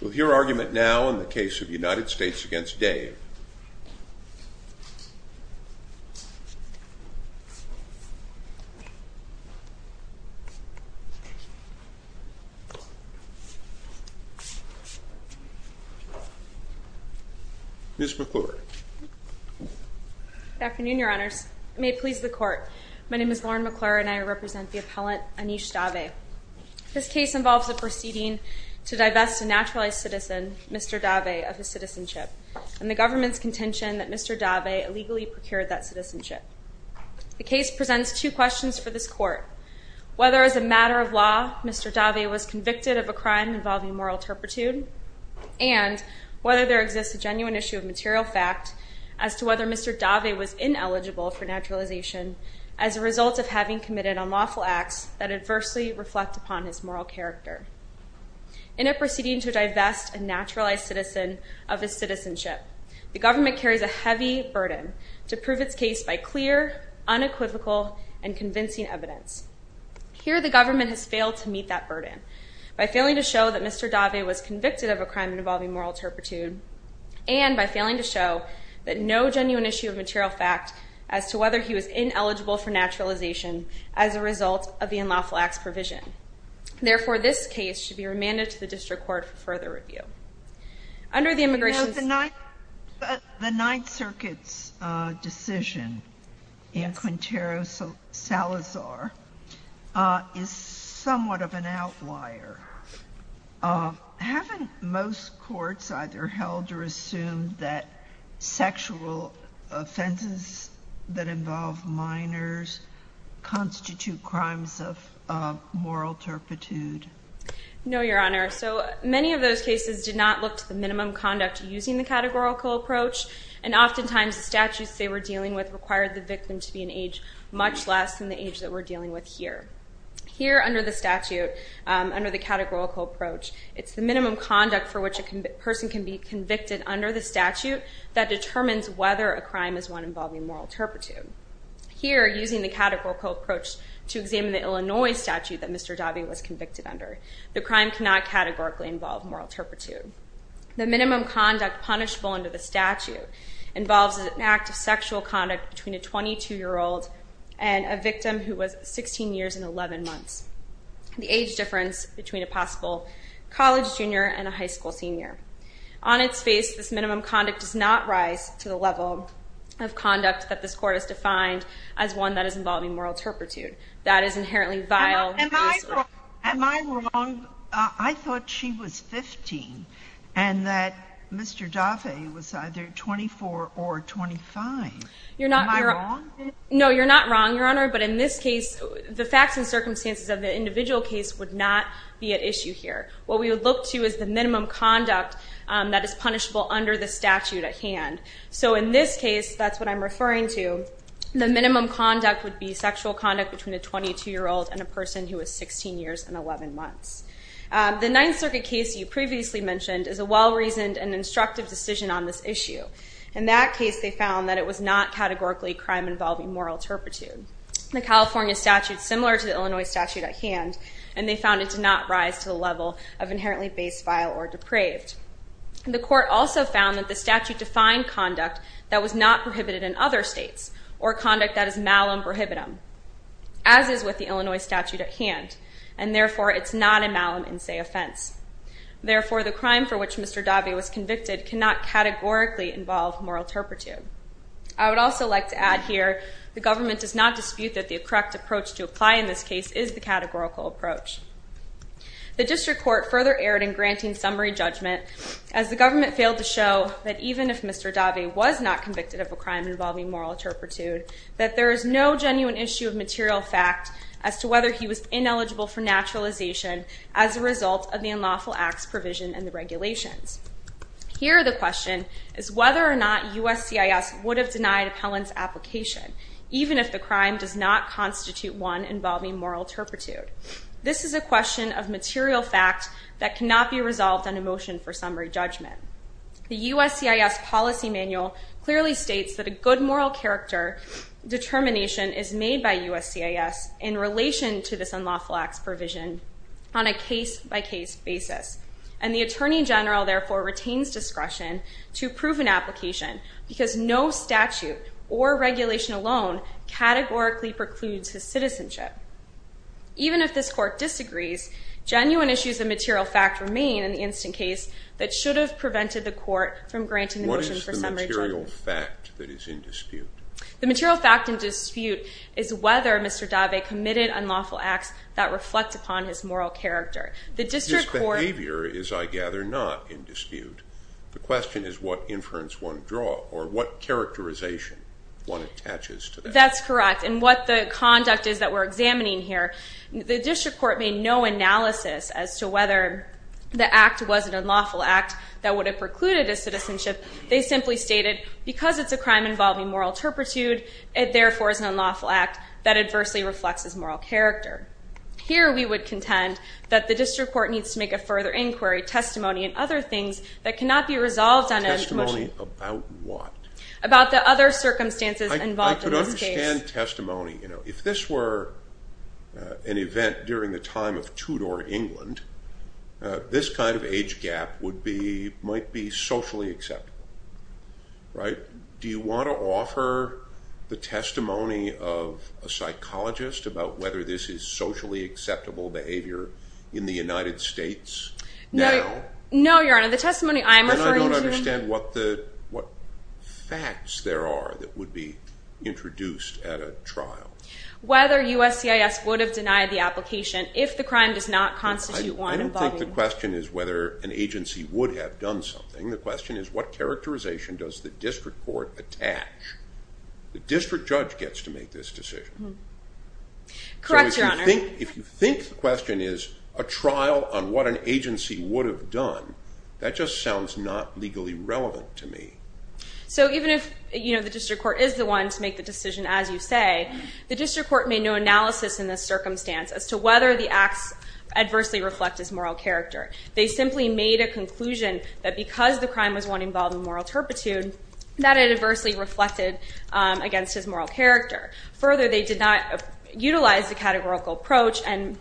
With your argument now in the case of United States v. Dave. Ms. McClure. Good afternoon, Your Honors. May it please the Court. My name is Lauren McClure and I represent the appellant Anish Dave. This case involves a proceeding to divest a naturalized citizen, Mr. Dave, of his citizenship, and the government's contention that Mr. Dave illegally procured that citizenship. The case presents two questions for this Court. Whether as a matter of law Mr. Dave was convicted of a crime involving moral turpitude and whether there exists a genuine issue of material fact as to whether Mr. Dave was ineligible for naturalization as a result of having committed unlawful acts that adversely reflect upon his moral character. In a proceeding to divest a naturalized citizen of his citizenship, the government carries a heavy burden to prove its case by clear, unequivocal, and convincing evidence. Here the government has failed to meet that burden by failing to show that Mr. Dave was convicted of a crime involving moral turpitude and by failing to show that no genuine issue of material fact as to whether he was ineligible for naturalization as a result of the unlawful acts provision. Therefore, this case should be remanded to the District Court for further review. Under the immigration... The Ninth Circuit's decision in Quintero Salazar is somewhat of an outlier. Haven't most courts either held or assumed that sexual offenses that involve minors constitute crimes of moral turpitude? No, Your Honor. So many of those cases did not look to the minimum conduct using the categorical approach and oftentimes the statutes they were dealing with required the victim to be an age much less than the age that we're dealing with here. Here under the statute, under the categorical approach, it's the minimum conduct for which a person can be convicted under the statute that determines whether a crime is one involving moral turpitude. Here, using the categorical approach to examine the Illinois statute that Mr. Dave was convicted under, the crime cannot categorically involve moral turpitude. The minimum conduct punishable under the statute involves an act of sexual conduct between a 22-year-old and a victim who was 16 years and 11 months, the age difference between a possible college junior and a high school senior. On its face, this minimum conduct does not rise to the level of conduct that this court has defined as one that is involving moral turpitude. That is inherently vile and abusive. Am I wrong? I thought she was 15 and that Mr. Dave was either 24 or 25. Am I wrong? No, you're not wrong, Your Honor. But in this case, the facts and circumstances of the individual case would not be at issue here. What we would look to is the minimum conduct that is punishable under the statute at hand. So in this case, that's what I'm referring to, the minimum conduct would be sexual conduct between a 22-year-old and a person who was 16 years and 11 months. The Ninth Circuit case you previously mentioned is a well-reasoned and instructive decision on this issue. In that case, they found that it was not categorically a crime involving moral turpitude. The California statute is similar to the Illinois statute at hand, and they found it to not rise to the level of inherently base, vile, or depraved. The court also found that the statute defined conduct that was not prohibited in other states or conduct that is malum prohibitum, as is with the Illinois statute at hand, and therefore it's not a malum in se offense. Therefore, the crime for which Mr. Davey was convicted cannot categorically involve moral turpitude. I would also like to add here, the government does not dispute that the correct approach to apply in this case is the categorical approach. The district court further erred in granting summary judgment, as the government failed to show that even if Mr. Davey was not convicted of a crime involving moral turpitude, that there is no genuine issue of material fact as to whether he was ineligible for naturalization as a result of the unlawful acts provision in the regulations. Here the question is whether or not USCIS would have denied appellant's application, even if the crime does not constitute one involving moral turpitude. This is a question of material fact that cannot be resolved on a motion for summary judgment. The USCIS policy manual clearly states that a good moral character determination is made by USCIS in relation to this unlawful acts provision on a case-by-case basis, and the attorney general therefore retains discretion to approve an application, because no statute or regulation alone categorically precludes his citizenship. Even if this court disagrees, genuine issues of material fact remain in the instant case that should have prevented the court from granting the motion for summary judgment. What is the material fact that is in dispute? The material fact in dispute is whether Mr. Dave committed unlawful acts that reflect upon his moral character. This behavior is, I gather, not in dispute. The question is what inference one draws or what characterization one attaches to that. That's correct. In what the conduct is that we're examining here, the district court made no analysis as to whether the act was an unlawful act that would have precluded his citizenship. They simply stated, because it's a crime involving moral turpitude, it therefore is an unlawful act that adversely reflects his moral character. Here we would contend that the district court needs to make a further inquiry, testimony, and other things that cannot be resolved on a motion. Testimony about what? About the other circumstances involved in this case. I could understand testimony. If this were an event during the time of Tudor England, this kind of age gap might be socially acceptable. Do you want to offer the testimony of a psychologist about whether this is socially acceptable behavior in the United States now? No, Your Honor. The testimony I'm referring to. Then I don't understand what facts there are that would be introduced at a trial. Whether USCIS would have denied the application if the crime does not constitute I don't think the question is whether an agency would have done something. The question is what characterization does the district court attach? The district judge gets to make this decision. Correct, Your Honor. If you think the question is a trial on what an agency would have done, that just sounds not legally relevant to me. Even if the district court is the one to make the decision, as you say, the district court made no analysis in this circumstance as to whether the acts adversely reflect his moral character. They simply made a conclusion that because the crime was one involved in moral turpitude, that it adversely reflected against his moral character. Further, they did not utilize the categorical approach and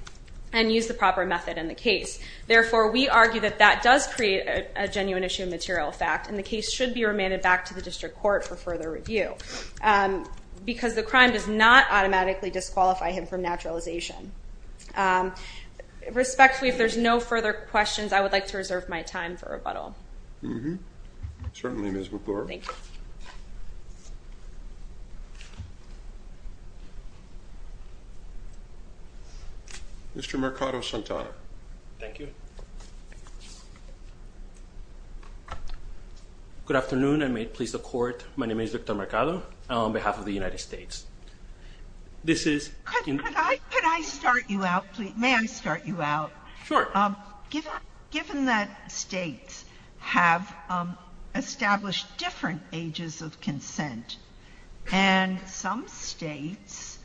use the proper method in the case. Therefore, we argue that that does create a genuine issue of material fact, and the case should be remanded back to the district court for further review because the crime does not automatically disqualify him from naturalization. Respectfully, if there's no further questions, I would like to reserve my time for rebuttal. Certainly, Ms. McClure. Thank you. Mr. Mercado-Santana. Thank you. Good afternoon, and may it please the Court, my name is Dr. Mercado on behalf of the United States. Could I start you out, please? May I start you out? Sure. Given that states have established different ages of consent, and some states,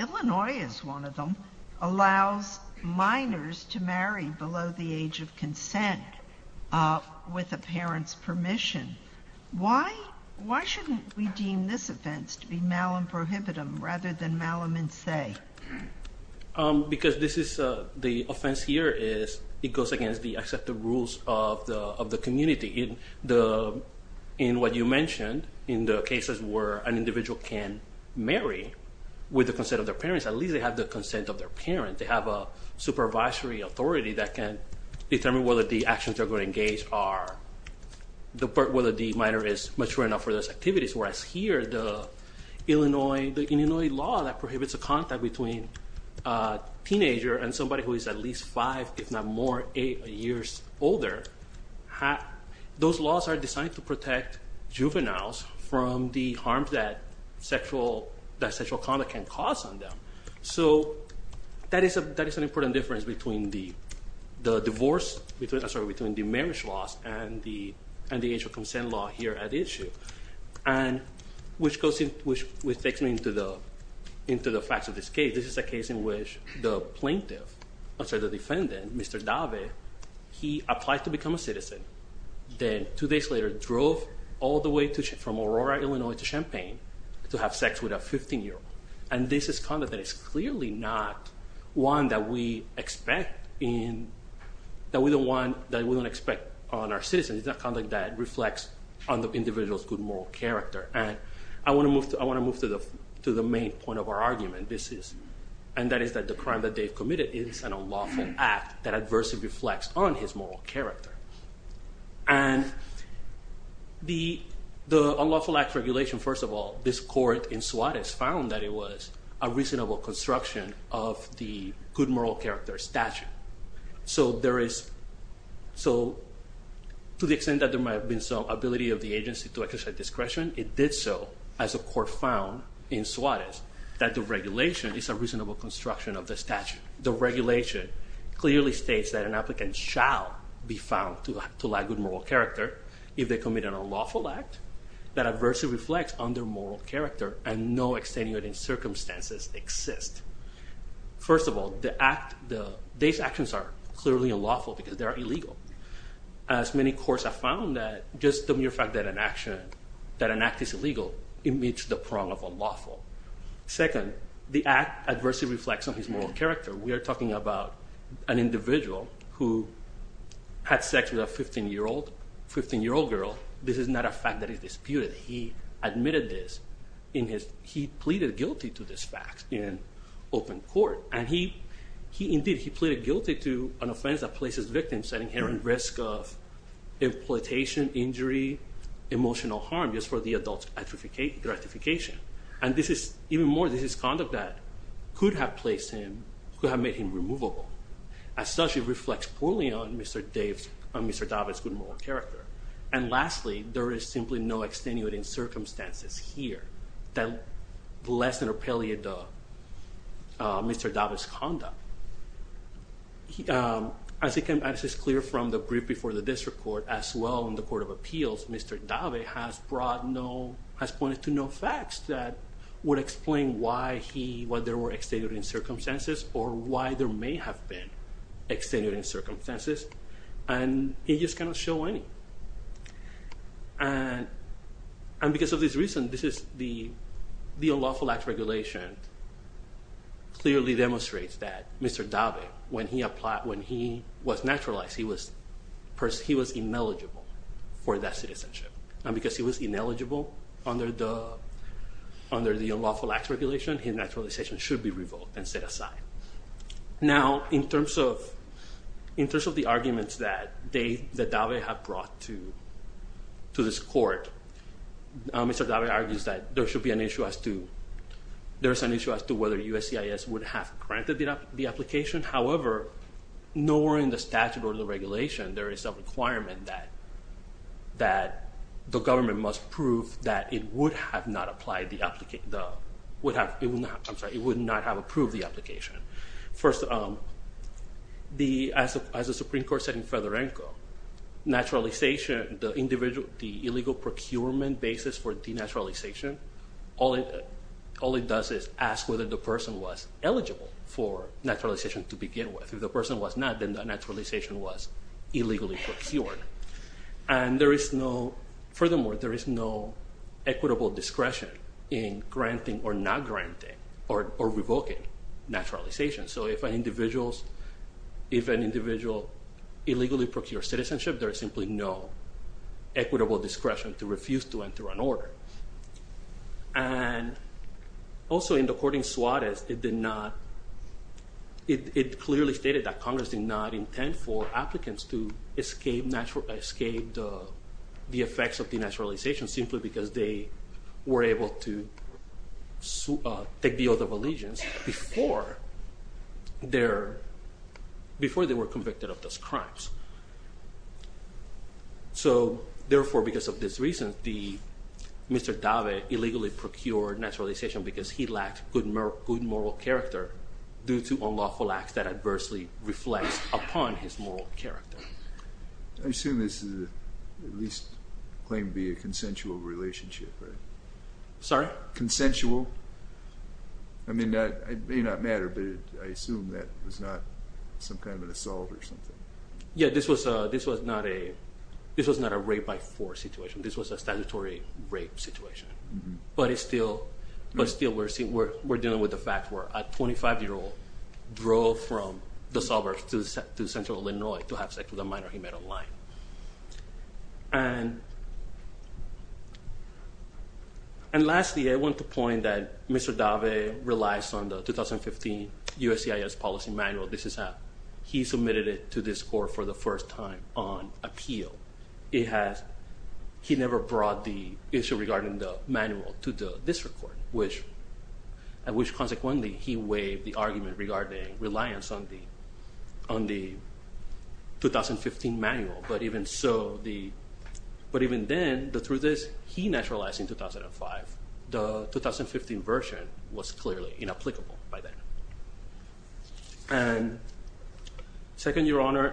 Illinois is one of them, allows minors to marry below the age of consent with a parent's permission, why shouldn't we deem this offense to be malum prohibitum rather than malum in se? Because the offense here is it goes against the accepted rules of the community. In what you mentioned, in the cases where an individual can marry with the consent of their parents, at least they have the consent of their parents. They have a supervisory authority that can determine whether the actions they're going to engage are whether the minor is mature enough for those activities. Whereas here, the Illinois law that prohibits the contact between a teenager and somebody who is at least five, if not more, eight years older, those laws are designed to protect juveniles from the harm that sexual conduct can cause on them. So that is an important difference between the divorce, between the marriage laws and the age of consent law here at issue. And which takes me into the facts of this case. This is a case in which the plaintiff, I'm sorry, the defendant, Mr. Dave, he applied to become a citizen. Then two days later drove all the way from Aurora, Illinois to Champaign to have sex with a 15-year-old. And this is conduct that is clearly not one that we expect in, that we don't want, that we don't expect on our citizens. It's not conduct that reflects on the individual's good moral character. And I want to move to the main point of our argument. This is, and that is that the crime that Dave committed is an unlawful act that adversely reflects on his moral character. And the unlawful act regulation, first of all, this court in Suarez found that it was a reasonable construction of the good moral character statute. So there is, so to the extent that there might have been some ability of the agency to exercise discretion, it did so as a court found in Suarez that the regulation is a reasonable construction of the statute. The regulation clearly states that an applicant shall be found to lack good moral character if they commit an unlawful act that adversely reflects on their moral character and no extenuating circumstances exist. First of all, the act, Dave's actions are clearly unlawful because they are illegal. As many courts have found that just the mere fact that an action, that an act is illegal, it meets the prong of unlawful. Second, the act adversely reflects on his moral character. We are talking about an individual who had sex with a 15-year-old girl. This is not a fact that is disputed. He admitted this in his, he pleaded guilty to this fact in open court. And he indeed, he pleaded guilty to an offense that places victims at inherent risk of implementation, injury, emotional harm just for the adult's gratification. And this is, even more, this is conduct that could have placed him, could have made him removable. As such, it reflects poorly on Mr. Dave's, on Mr. Dave's good moral character. And lastly, there is simply no extenuating circumstances here that lessen or palliate Mr. Dave's conduct. As it is clear from the brief before the district court, as well in the court of appeals, Mr. Dave has brought no, has pointed to no facts that would explain why he, why there were extenuating circumstances or why there may have been extenuating circumstances. And he just cannot show any. And because of this reason, this is the unlawful act regulation clearly demonstrates that Mr. Dave, when he applied, when he was naturalized, he was, he was ineligible for that citizenship. And because he was ineligible under the, under the unlawful act regulation, his naturalization should be revoked and set aside. Now, in terms of, in terms of the arguments that they, that Dave have brought to, to this court, Mr. Dave argues that there should be an issue as to, there's an issue as to whether USCIS would have granted the application. However, nowhere in the statute or the regulation there is a requirement that, that the government must prove that it would have not applied the, would have, I'm sorry, it would not have approved the application. First, the, as the Supreme Court said in Fedorenko, naturalization, the individual, the illegal procurement basis for denaturalization, all it, all it does is ask whether the person was eligible for naturalization to begin with. If the person was not, then the naturalization was illegally procured. And there is no, furthermore, there is no equitable discretion in granting or not granting or revoking naturalization. So if an individual, if an individual illegally procured citizenship, there is simply no equitable discretion to refuse to enter an order. And also in the court in Suarez, it did not, it clearly stated that Congress did not intend for applicants to escape natural, escape the effects of denaturalization simply because they were able to take the oath of allegiance before they're, before they were convicted of those crimes. So therefore, because of this reason, the, Mr. Dave illegally procured naturalization because he lacked good moral character due to unlawful acts that adversely reflect upon his moral character. I assume this is at least claimed to be a consensual relationship, right? Sorry? Consensual? I mean, it may not matter, but I assume that was not some kind of an assault or something. Yeah, this was not a, this was not a rape by force situation. This was a statutory rape situation. But it still, but still we're dealing with the fact where a 25-year-old drove from the suburbs to central Illinois to have sex with a minor he met online. And lastly, I want to point that Mr. Dave relies on the 2015 USCIS policy manual. This is how he submitted it to this court for the first time on appeal. It has, he never brought the issue regarding the manual to the district court, which consequently he waived the argument regarding reliance on the 2015 manual. But even so, but even then, the truth is, he naturalized in 2005. The 2015 version was clearly inapplicable by then. And second, Your Honor,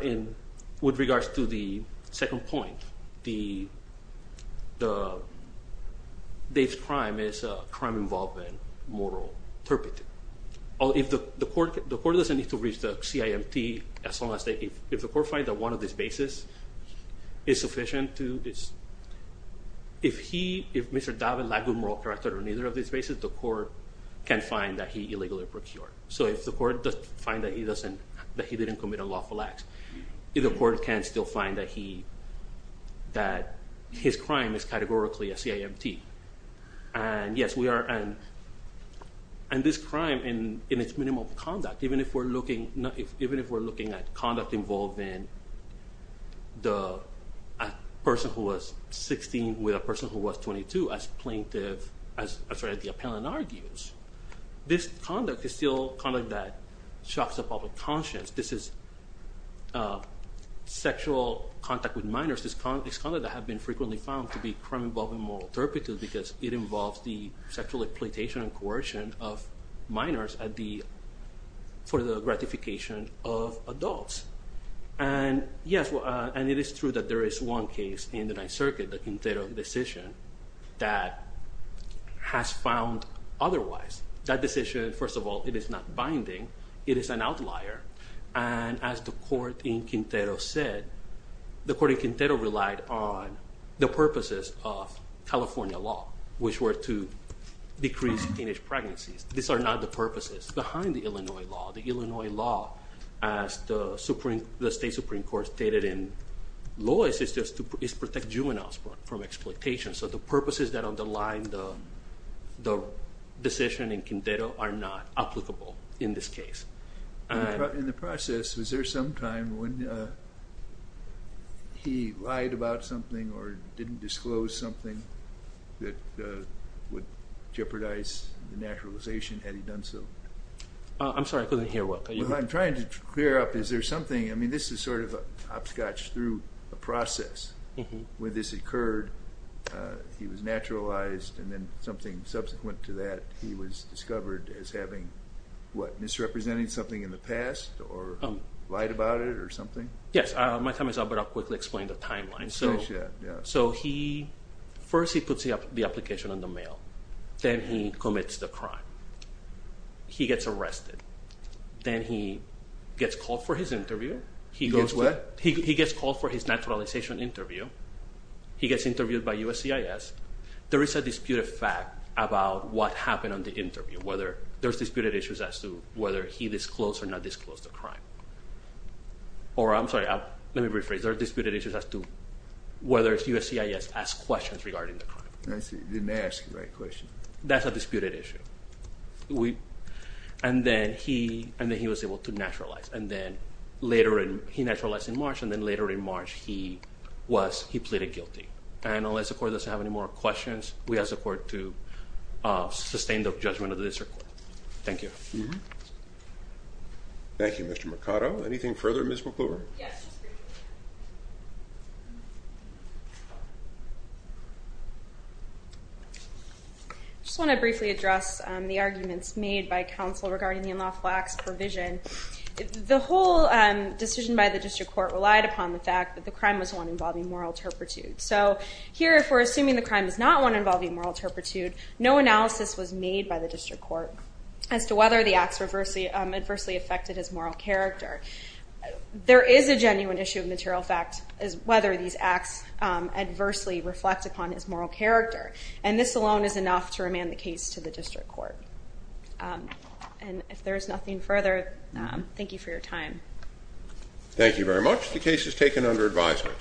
with regards to the second point, Dave's crime is a crime involving moral turpitude. If the court, the court doesn't need to reach the CIMT as long as they, if the court finds that one of these bases is sufficient to, if he, if Mr. Dave lacked with moral character on either of these bases, the court can find that he illegally procured. So if the court does find that he doesn't, that he didn't commit an unlawful act, the court can still find that he, that his crime is categorically a CIMT. And yes, we are, and this crime in its minimum conduct, even if we're looking at conduct involved in the person who was 16 with a person who was 22, as plaintiff, as the appellant argues, this conduct is still conduct that shocks the public conscience. This is sexual contact with minors. This is conduct that have been frequently found to be crime involving moral turpitude because it involves the sexual exploitation and coercion of minors at the, for the gratification of adults. And yes, and it is true that there is one case in the Ninth Circuit, the Quintero decision, that has found otherwise. That decision, first of all, it is not binding. It is an outlier. And as the court in Quintero said, the court in Quintero relied on the purposes of California law, which were to decrease teenage pregnancies. These are not the purposes behind the Illinois law. The Illinois law, as the Supreme, the state Supreme Court stated in Lois, is just to protect juveniles from exploitation. So the purposes that underline the decision in Quintero are not applicable in this case. In the process, was there some time when he lied about something or didn't disclose something that would jeopardize the naturalization, had he done so? I'm sorry, I couldn't hear what you meant. Well, I'm trying to clear up, is there something, I mean, this is sort of obscotched through a process. When this occurred, he was naturalized, and then something subsequent to that, he was discovered as having, what, misrepresenting something in the past or lied about it or something? Yes, my time is up, but I'll quickly explain the timeline. So first he puts the application in the mail. Then he commits the crime. He gets arrested. Then he gets called for his interview. He gets what? He gets called for his naturalization interview. He gets interviewed by USCIS. There is a disputed fact about what happened on the interview, whether there's disputed issues as to whether he disclosed or not disclosed the crime. Or I'm sorry, let me rephrase. There are disputed issues as to whether USCIS asked questions regarding the crime. I see. It didn't ask the right questions. That's a disputed issue. And then he was able to naturalize. And then later, he naturalized in March, and then later in March he pleaded guilty. And unless the court doesn't have any more questions, we ask the court to sustain the judgment of the district court. Thank you. Thank you, Mr. Mercado. Anything further, Ms. McClure? Yes. I just want to briefly address the arguments made by counsel regarding the unlawful acts provision. The whole decision by the district court relied upon the fact that the crime was one involving moral turpitude. So here, if we're assuming the crime is not one involving moral turpitude, no analysis was made by the district court as to whether the acts adversely affected his moral character. There is a genuine issue of material fact, whether these acts adversely reflect upon his moral character. And this alone is enough to remand the case to the district court. And if there is nothing further, thank you for your time. Thank you very much. The case is taken under advisement.